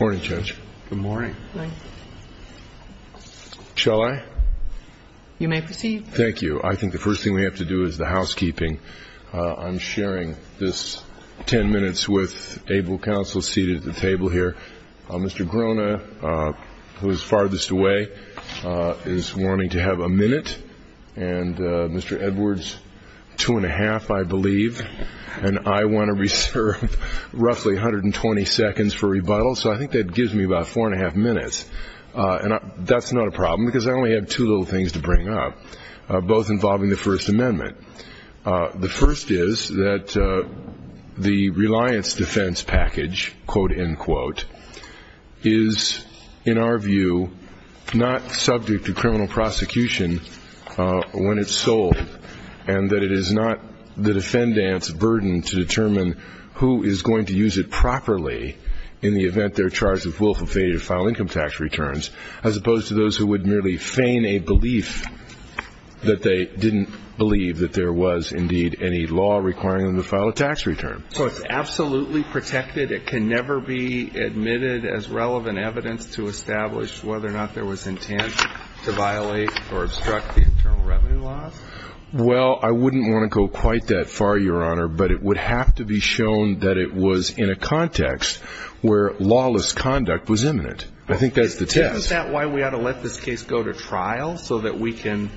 Morning Judge. Good morning. Shall I? You may proceed. Thank you. I think the first thing we have to do is the housekeeping. I'm sharing this 10 minutes with able counsel seated at the table here. Mr. Grona, who is farthest away, is wanting to have a minute and Mr. Edwards two and a half I believe and I want to reserve roughly 120 seconds for rebuttal so I think that gives me about four and a half minutes and that's not a problem because I only have two little things to bring up both involving the First Amendment. The first is that the reliance defense package quote-end quote is in our view not subject to criminal prosecution when it's sold and that it is not the defendant's burden to properly in the event they're charged with willful failure to file income tax returns as opposed to those who would merely feign a belief that they didn't believe that there was indeed any law requiring them to file a tax return. So it's absolutely protected? It can never be admitted as relevant evidence to establish whether or not there was intent to violate or obstruct the internal revenue laws? Well I wouldn't want to go quite that far your honor but it would have to be shown that it was in a context where lawless conduct was imminent. I think that's the test. Isn't that why we ought to let this case go to trial so that we can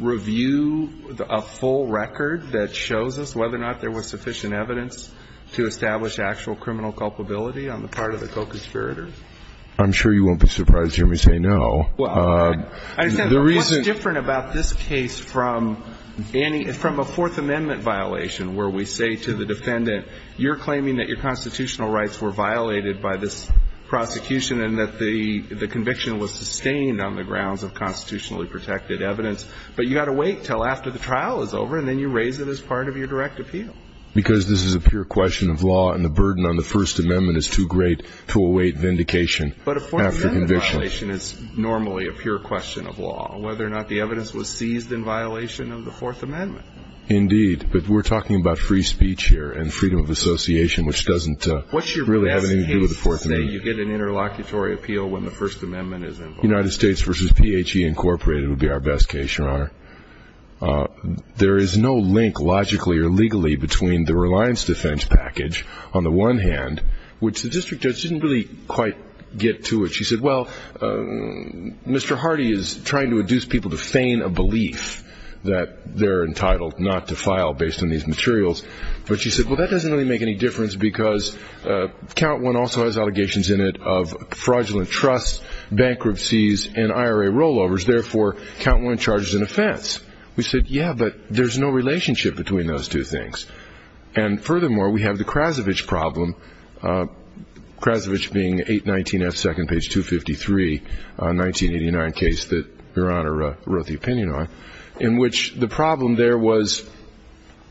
review a full record that shows us whether or not there was sufficient evidence to establish actual criminal culpability on the part of the co-conspirators? I'm sure you won't be surprised hear me say no. Well the reason different about this case from any from a Fourth Amendment violation where we say to the defendant you're claiming that your constitutional rights were violated by this prosecution and that the the conviction was sustained on the grounds of constitutionally protected evidence but you got to wait till after the trial is over and then you raise it as part of your direct appeal. Because this is a pure question of law and the burden on the First Amendment is too great to await vindication. But a Fourth Amendment violation is normally a pure question of law. Whether or not the evidence was seized in violation of the Fourth Amendment. Indeed but we're talking about free speech here and freedom of association which doesn't really have anything to do with the Fourth Amendment. What's your best case to say you get an interlocutory appeal when the First Amendment is involved? United States versus PHE Incorporated would be our best case your honor. There is no link logically or legally between the reliance defense package on the one hand which the district judge didn't really quite get to it. She said well Mr. Hardy is trying to induce people to feign a belief that they're entitled not to file based on these materials. But she said well that doesn't really make any difference because count one also has allegations in it of fraudulent trust, bankruptcies and IRA rollovers. Therefore count one charges an offense. We said yeah but there's no relationship between those two things. And furthermore we have the Krasovich problem. Krasovich being 819 F second page 253 1989 case that your honor wrote the opinion on in which the problem there was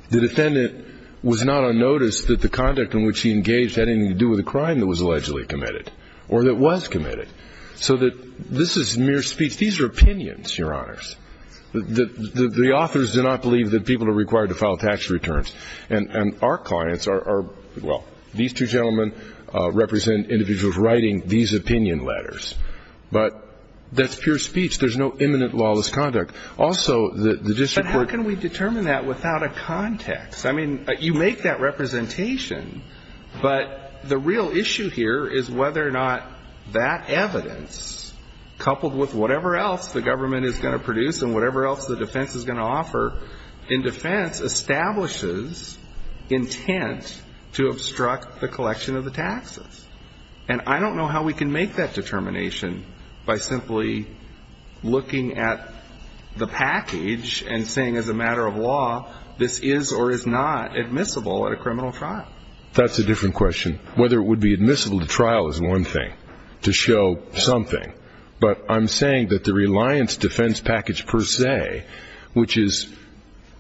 the defendant was not on notice that the conduct in which he engaged had anything to do with the crime that was allegedly committed or that was committed. So that this is mere speech. These are opinions your honors. The authors do not believe that people are required to file tax returns and our clients are well these two gentlemen represent individuals writing these opinion letters. But that's pure speech. There's no imminent lawless conduct. Also the district court. But how can we determine that without a context? I mean you make that representation but the real issue here is whether or not that evidence coupled with whatever else the government is going to produce and whatever else the defense is going to offer in defense establishes intent to obstruct the collection of the taxes. And I don't know how we can make that determination by simply looking at the package and saying as a matter of law this is or is not admissible at a criminal trial. That's a different question. Whether it would be admissible to trial is one thing. To show something. But I'm saying that the reliance defense package per se which is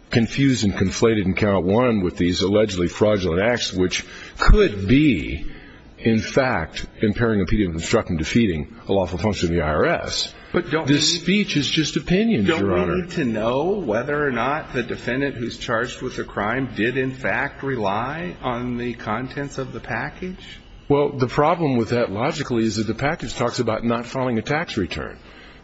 confused and conflated in count one with these allegedly fraudulent acts which could be in fact impairing the construction defeating a lawful function of the IRS. But this speech is just opinion your honor. Don't we need to know whether or not the defendant who's charged with a crime did in fact rely on the contents of the package? Well the problem with that logically is that the package talks about not filing a tax return.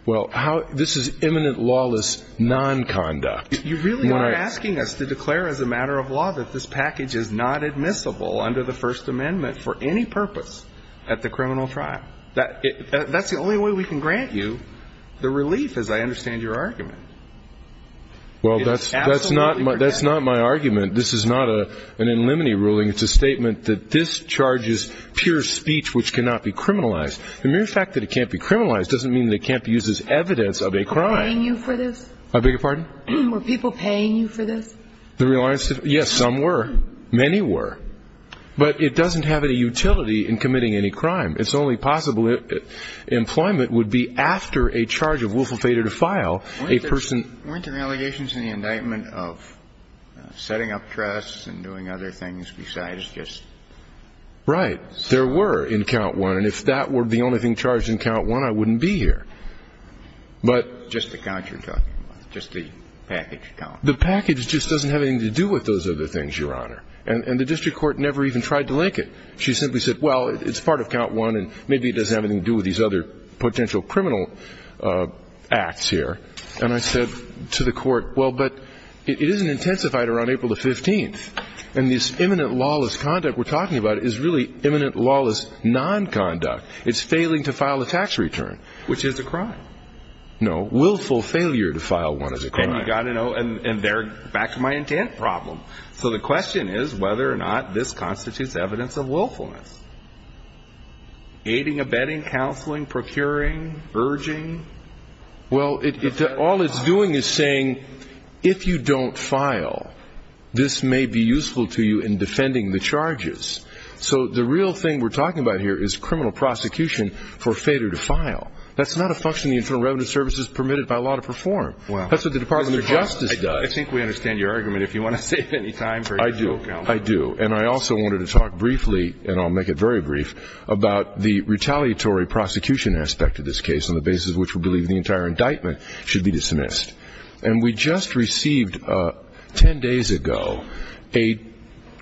Well how this is imminent lawless non-conduct. You really are asking us to declare as a matter of law that this package is not admissible under the first amendment for any purpose at the criminal trial. That's the only way we can grant you the relief as I understand your argument. Well that's not my argument. This is not an in limine ruling. It's a statement that this charges pure speech which cannot be criminalized. The mere fact that it can't be criminalized doesn't mean that it can't be used as evidence of a crime. Were people paying you for this? I beg your pardon? Were people paying you for this? Yes, some were. Many were. But it doesn't have any utility in committing any crime. It's only possible employment would be after a charge of willful fatal defile. Weren't there allegations in the indictment of setting up trusts and doing other things besides just? Right. There were in count one. And if that were the only thing charged in count one I wouldn't be here. But. Just the count you're talking about. Just the package count. The package just doesn't have anything to do with those other things your honor. And the district court never even tried to link it. She simply said well it's part of count one and maybe it doesn't have anything to do with these other potential criminal acts here. And I said to the court well but it isn't intensified around April the 15th. And this imminent lawless conduct we're talking about is really imminent lawless non-conduct. It's failing to file a tax return. Which is a crime. No. Willful failure to file one is a crime. And you got to know and they're back to my intent problem. So the question is whether or not this constitutes evidence of willfulness. Aiding, abetting, counseling, procuring, urging. Well all it's doing is saying if you don't file this may be useful to you in defending the charges. So the real thing we're talking about here is criminal prosecution for fatal defile. That's not a function of the Internal Revenue Service's permitted by law to perform. That's what the Department of Justice does. I think we understand your argument if you want to save any time for your show, Counselor. I do. I do. And I also wanted to talk briefly and I'll make it very brief about the retaliatory prosecution aspect of this case on the basis which we believe the entire indictment should be dismissed. And we just received ten days ago a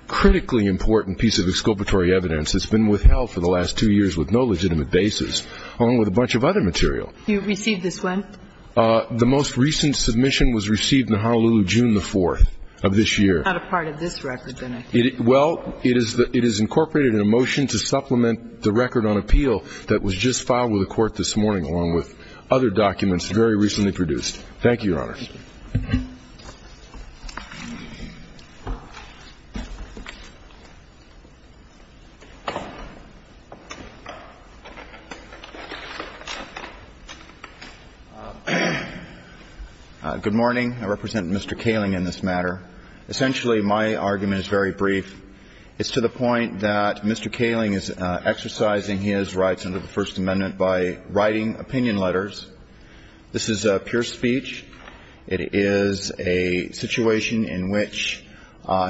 critically important piece of exculpatory evidence that's been withheld for the last two years with no legitimate basis along with a bunch of other material. You received this when? The most recent submission was received in Honolulu June the 4th of this year. Not a part of this record then, I think. Well, it is incorporated in a motion to supplement the record on appeal that was just filed with the court this morning along with other documents very recently produced. Thank you, Your Honor. Good morning. I represent Mr. Kaling in this matter. Essentially, my argument is very brief. It's to the point that Mr. Kaling is exercising his rights under the First Amendment by writing opinion letters. This is pure speech. It is a situation in which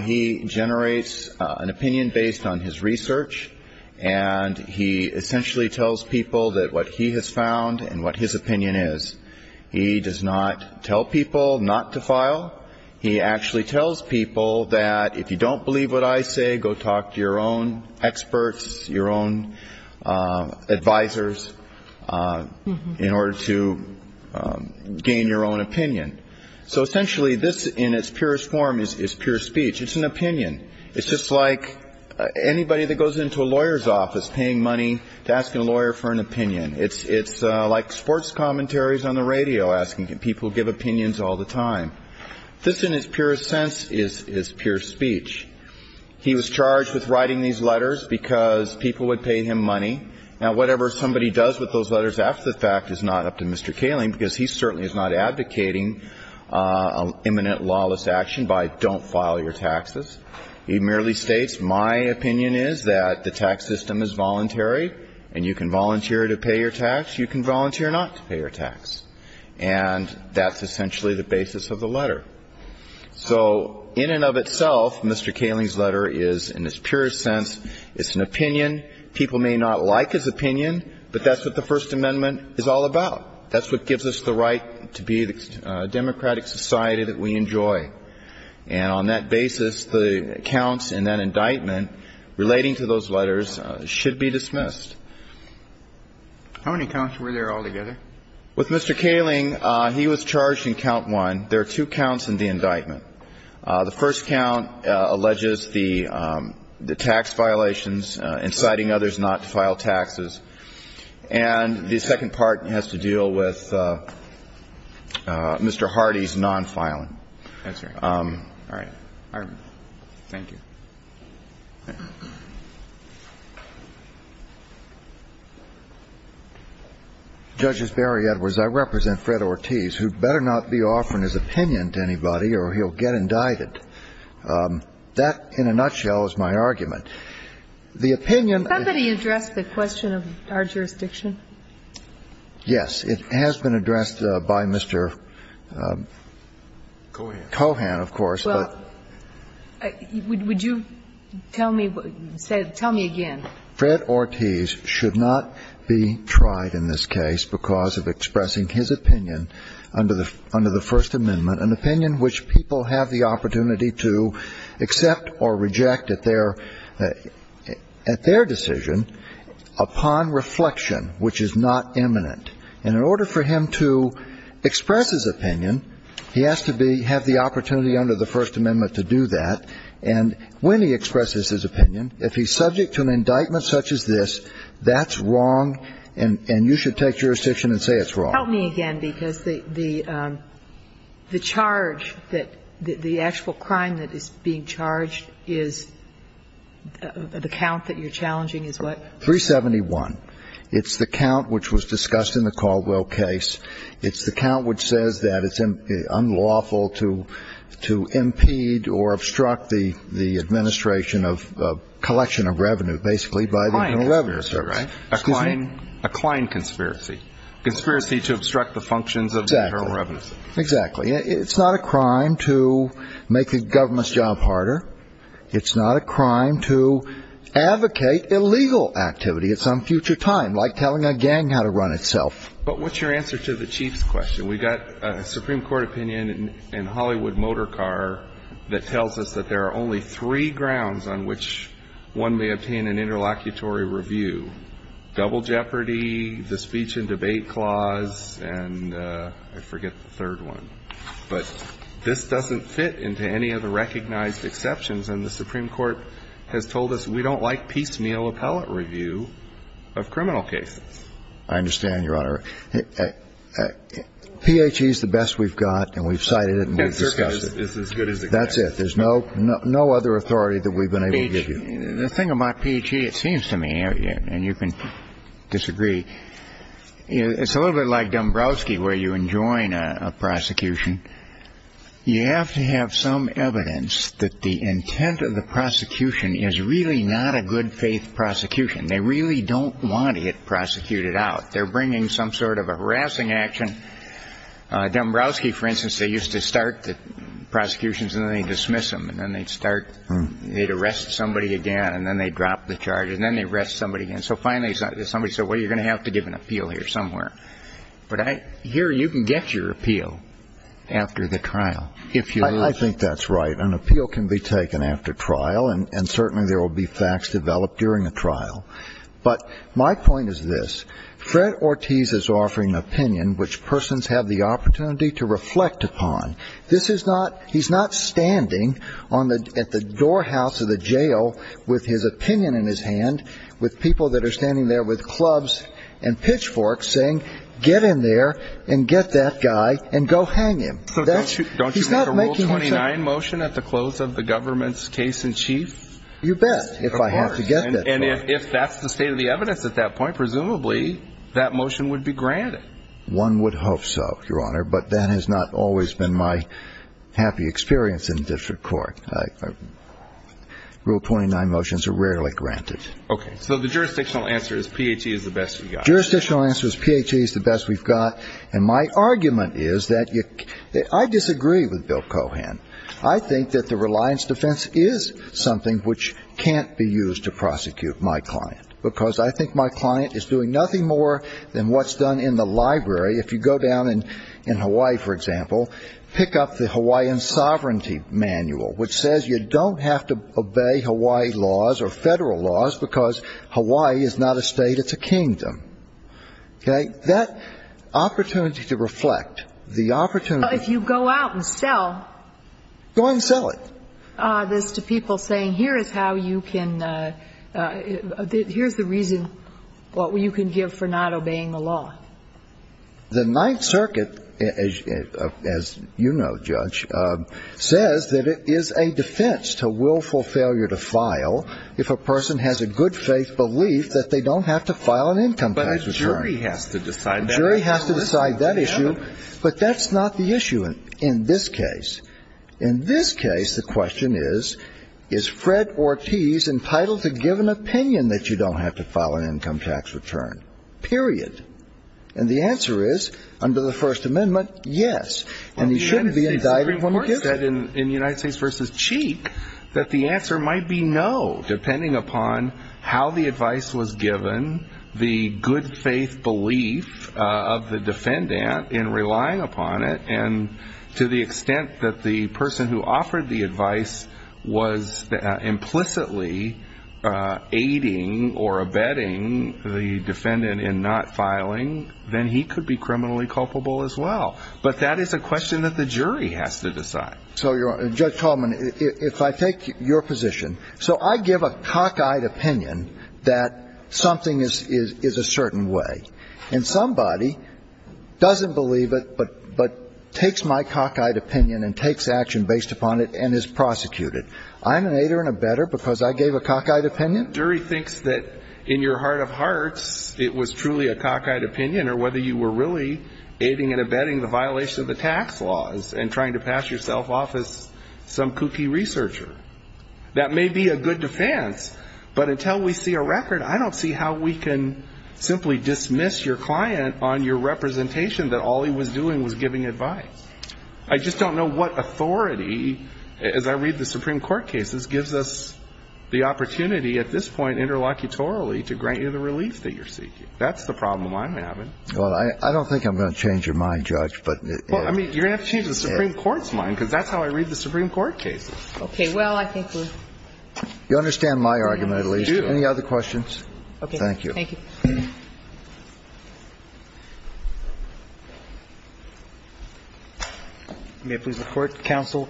he generates an opinion based on his research and he essentially tells people that what he has found and what his opinion is. He does not tell people not to file. He actually tells people that if you don't believe what I say, go talk to your own experts, your own advisors in order to gain your own opinion. So essentially, this in its purest form is pure speech. It's an opinion. It's just like anybody that goes into a lawyer's office paying money to ask a lawyer for an opinion. It's like sports commentaries on the radio asking people to give opinions all the time. This in its purest sense is pure speech. He was charged with writing these letters because people would pay him money. Now, whatever somebody does with those letters after the fact is not up to Mr. Kaling because he certainly is not my opinion is that the tax system is voluntary and you can volunteer to pay your tax. You can volunteer not to pay your tax. And that's essentially the basis of the letter. So in and of itself, Mr. Kaling's letter is, in its purest sense, it's an opinion. People may not like his opinion, but that's what the First Amendment is all about. That's what gives us the right to be the democratic society that we enjoy. And on that basis, the counts in that indictment relating to those letters should be dismissed. How many counts were there altogether? With Mr. Kaling, he was charged in count one. There are two counts in the indictment. The first count alleges the tax violations, inciting others not to file taxes. And the second part has to deal with Mr. Hardy's non-filing. Thank you. Judges, Barry Edwards, I represent Fred Ortiz, who better not be offering his opinion to anybody or he'll get indicted. That, in a nutshell, is my argument. The opinion of the judge was that he was charged in count one. Somebody addressed the question of our jurisdiction? It has been addressed by Mr. Kaling. Kohan, of course. Well, would you tell me what you said? Tell me again. Fred Ortiz should not be tried in this case because of expressing his opinion under the First Amendment, an opinion which people have the opportunity to accept or reject at their decision upon reflection, which is not imminent. And in order for him to express his opinion, he has to have the opportunity under the First Amendment to do that. And when he expresses his opinion, if he's subject to an indictment such as this, that's wrong, and you should take jurisdiction and say it's wrong. Help me again, because the charge that the actual crime that is being charged is the count that you're challenging is what? 371. It's the count which was discussed in the Caldwell case. It's the count which says that it's unlawful to impede or obstruct the administration of collection of revenue, basically, by the Federal Revenue Service. A client conspiracy, right? Excuse me? A client conspiracy. Conspiracy to obstruct the functions of the Federal Revenue Service. Exactly. It's not a crime to make the government's job harder. It's not a crime to advocate illegal activity at some future time, like telling a gang how to run itself. But what's your answer to the Chief's question? We've got a Supreme Court opinion in Hollywood Motor Car that tells us that there are only three grounds on which one may obtain an interlocutory review, double jeopardy, the speech and debate clause, and I forget the third one. But this doesn't fit into any of the recognized exceptions, and the Supreme Court has told us we don't like piecemeal appellate review of criminal cases. I understand, Your Honor. PHE is the best we've got, and we've cited it, and we've discussed it. PHE is as good as it gets. That's it. There's no other authority that we've been able to give you. The thing about PHE, it seems to me, and you can disagree, it's a little bit like Dombrowski where you enjoin a prosecution. You have to have some evidence that the intent of the prosecution is really not a good faith prosecution. They really don't want to get prosecuted out. They're bringing some sort of a harassing action. Dombrowski, for instance, they used to start the prosecutions, and then they'd dismiss them, and then they'd arrest somebody again, and then they'd drop the charges, and then they'd arrest somebody again. So finally somebody said, well, you're going to have to give an appeal here somewhere. But here you can get your appeal after the trial if you like. I think that's right. An appeal can be taken after trial, and certainly there will be facts developed during a trial. But my point is this. Fred Ortiz is offering an opinion which persons have the opportunity to reflect upon. This is not he's not standing at the doorhouse of the jail with his opinion in his hand, with people that are standing there with clubs and pitchforks saying, get in there and get that guy and go hang him. So don't you make a Rule 29 motion at the close of the government's case in chief? You bet, if I have to get that. And if that's the state of the evidence at that point, presumably that motion would be granted. One would hope so, Your Honor, but that has not always been my happy experience in district court. Rule 29 motions are rarely granted. Okay. So the jurisdictional answer is PHE is the best we've got. Jurisdictional answer is PHE is the best we've got. And my argument is that I disagree with Bill Cohan. I think that the reliance defense is something which can't be used to prosecute my client, because I think my client is doing nothing more than what's done in the library. If you go down in Hawaii, for example, pick up the Hawaiian Sovereignty Manual, which says you don't have to obey Hawaii laws or federal laws because Hawaii is not a state, it's a kingdom. Okay. That opportunity to reflect, the opportunity to reflect. If you go out and sell. Go and sell it. This to people saying here is how you can ‑‑ here's the reason what you can give for not obeying the law. The Ninth Circuit, as you know, Judge, says that it is a defense to willful failure to file if a person has a good faith belief that they don't have to file an income tax return. But a jury has to decide that. A jury has to decide that issue. But that's not the issue in this case. In this case, the question is, is Fred Ortiz entitled to give an opinion that you don't have to file an income tax return? Period. And the answer is, under the First Amendment, yes. And he shouldn't be indicted when he gives it. In United States v. Cheek, that the answer might be no. Depending upon how the advice was given, the good faith belief of the defendant in relying upon it, and to the extent that the person who offered the advice was implicitly aiding or abetting the defendant in not filing, then he could be criminally culpable as well. But that is a question that the jury has to decide. So, Judge Tallman, if I take your position, so I give a cockeyed opinion that something is a certain way. And somebody doesn't believe it, but takes my cockeyed opinion and takes action based upon it and is prosecuted. I'm an aider and abetter because I gave a cockeyed opinion? The jury thinks that in your heart of hearts, it was truly a cockeyed opinion, or whether you were really aiding and abetting the violation of the tax laws and trying to pass yourself off as some kooky researcher. That may be a good defense. But until we see a record, I don't see how we can simply dismiss your client on your representation that all he was doing was giving advice. I just don't know what authority, as I read the Supreme Court cases, gives us the opportunity at this point interlocutorily to grant you the relief that you're seeking. That's the problem I'm having. Well, I don't think I'm going to change your mind, Judge. Well, I mean, you're going to have to change the Supreme Court's mind because that's how I read the Supreme Court cases. Okay. Well, I think we're... You understand my argument, at least. Do you? Any other questions? Okay. Thank you. Thank you. May I please report to counsel?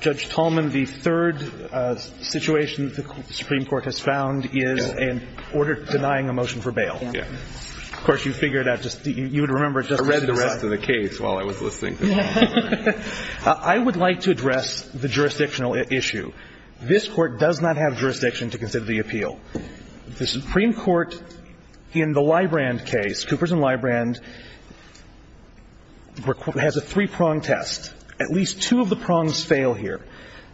Judge Tolman, the third situation the Supreme Court has found is an order denying a motion for bail. Yeah. Of course, you figured out just the you would remember just... I read the rest of the case while I was listening to you. I would like to address the jurisdictional issue. This Court does not have jurisdiction to consider the appeal. The Supreme Court in the Librand case, Coopers and Librand, has a three-prong test. At least two of the prongs fail here.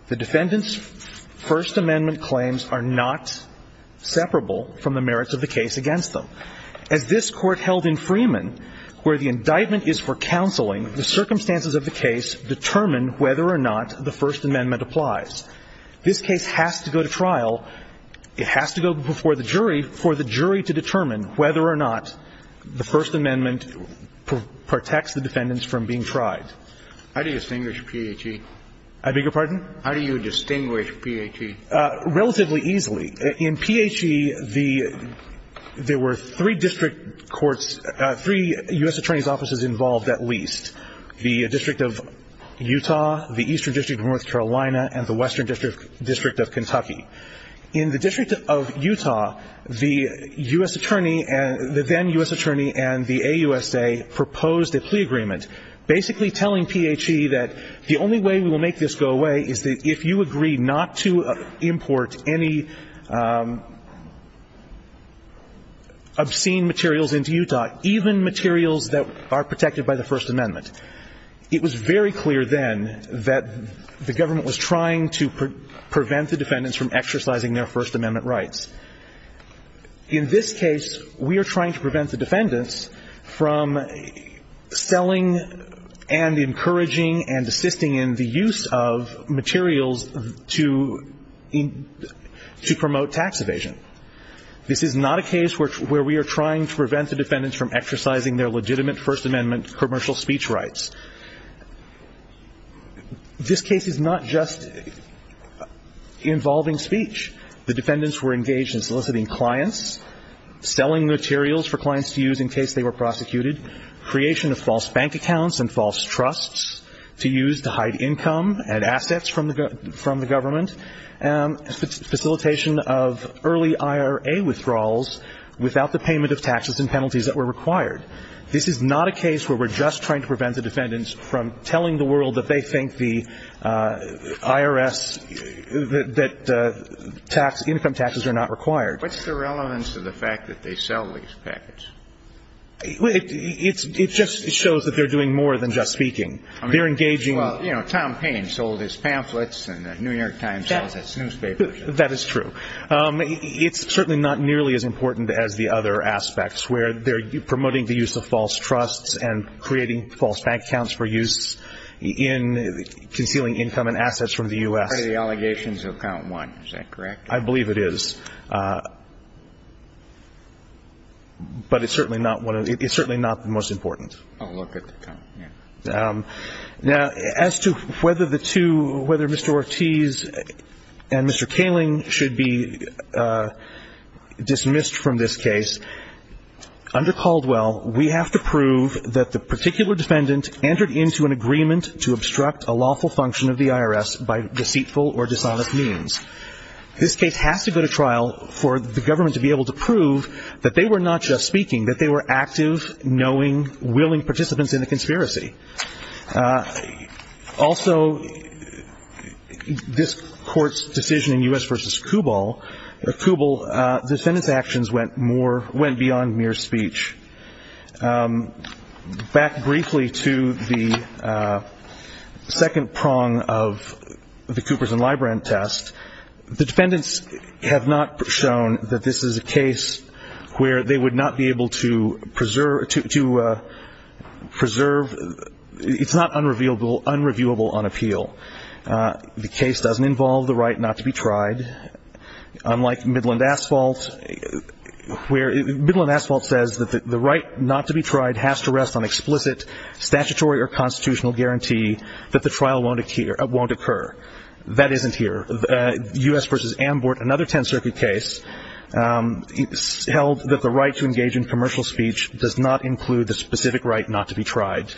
The defendant's First Amendment claims are not separable from the merits of the case against them. As this Court held in Freeman, where the indictment is for counseling, the circumstances of the case determine whether or not the First Amendment applies. This case has to go to trial. It has to go before the jury for the jury to determine whether or not the First Amendment protects the defendants from being tried. How do you distinguish PHE? I beg your pardon? How do you distinguish PHE? Relatively easily. In PHE, there were three district courts, three U.S. Attorney's offices involved at least, the District of Utah, the Eastern District of North Carolina, and the Western District of Kentucky. In the District of Utah, the U.S. Attorney, the then U.S. Attorney and the AUSA proposed a plea agreement, basically telling PHE that the only way we will make this go away is that if you agree not to import any obscene materials into Utah, even materials that are protected by the First Amendment. It was very clear then that the government was trying to prevent the defendants from exercising their First Amendment rights. In this case, we are trying to prevent the defendants from selling and encouraging and assisting in the use of materials to promote tax evasion. This is not a case where we are trying to prevent the defendants from exercising their legitimate First Amendment commercial speech rights. This case is not just involving speech. The defendants were engaged in soliciting clients, selling materials for clients to use in case they were prosecuted, creation of false bank accounts and false trusts to use to hide income and assets from the government, facilitation of early IRA withdrawals without the payment of taxes and penalties that were required. This is not a case where we're just trying to prevent the defendants from telling the world that they think the IRS, that income taxes are not required. What's the relevance of the fact that they sell these packets? It just shows that they're doing more than just speaking. They're engaging. Well, you know, Tom Payne sold his pamphlets and the New York Times sells its newspapers. That is true. It's certainly not nearly as important as the other aspects where they're promoting the use of false trusts and creating false bank accounts for use in concealing income and assets from the U.S. Part of the allegations of count one. Is that correct? I believe it is. But it's certainly not the most important. Now, as to whether Mr. Ortiz and Mr. Kaling should be dismissed from this case, under Caldwell we have to prove that the particular defendant entered into an agreement to obstruct a lawful function of the IRS by deceitful or dishonest means. This case has to go to trial for the government to be able to prove that they were not just speaking, that they were active, knowing, willing participants in the conspiracy. Also, this court's decision in U.S. v. Kubel, the Kubel defendant's actions went beyond mere speech. Back briefly to the second prong of the Coopers and Librand test, the defendants have not shown that this is a case where they would not be able to preserve, it's not unreviewable on appeal. The case doesn't involve the right not to be tried. Unlike Midland Asphalt, Midland Asphalt says that the right not to be tried has to rest on explicit statutory or constitutional guarantee that the trial won't occur. That isn't here. U.S. v. Ambort, another Tenth Circuit case, held that the right to engage in commercial speech does not include the specific right not to be tried.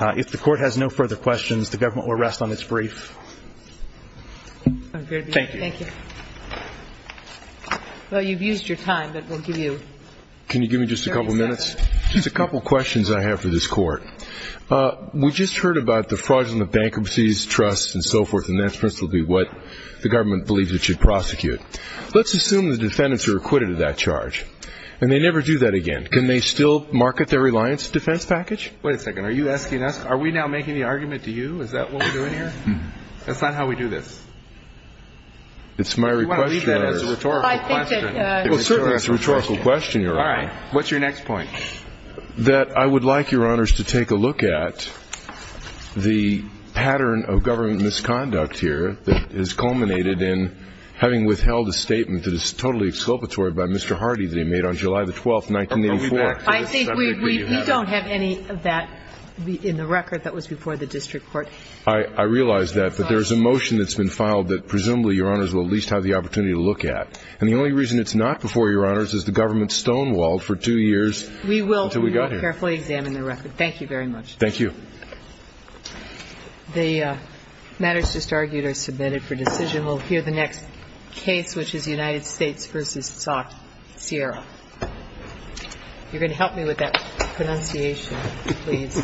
If the court has no further questions, the government will rest on its brief. Thank you. Thank you. Well, you've used your time, but we'll give you 30 seconds. Can you give me just a couple minutes? Just a couple questions I have for this court. We just heard about the fraudulent bankruptcies, trusts, and so forth, and that's principally what the government believes it should prosecute. Let's assume the defendants are acquitted of that charge, and they never do that again. Can they still market their reliance defense package? Wait a second. Are you asking us, are we now making the argument to you? Is that what we're doing here? That's not how we do this. It's my request, Your Honor. You want to leave that as a rhetorical question. Well, certainly it's a rhetorical question, Your Honor. All right. What's your next point? That I would like, Your Honors, to take a look at the pattern of government misconduct here that has culminated in having withheld a statement that is totally exculpatory by Mr. Hardy that he made on July the 12th, 1984. I think we don't have any of that in the record that was before the district court. I realize that, but there's a motion that's been filed that presumably, Your Honors, will at least have the opportunity to look at. And the only reason it's not before, Your Honors, is the government stonewalled for two years until we got here. We will carefully examine the record. Thank you very much. Thank you. The matters just argued are submitted for decision. We'll hear the next case, which is United States v. Sierra. You're going to help me with that pronunciation, please. Thank you. Thank you.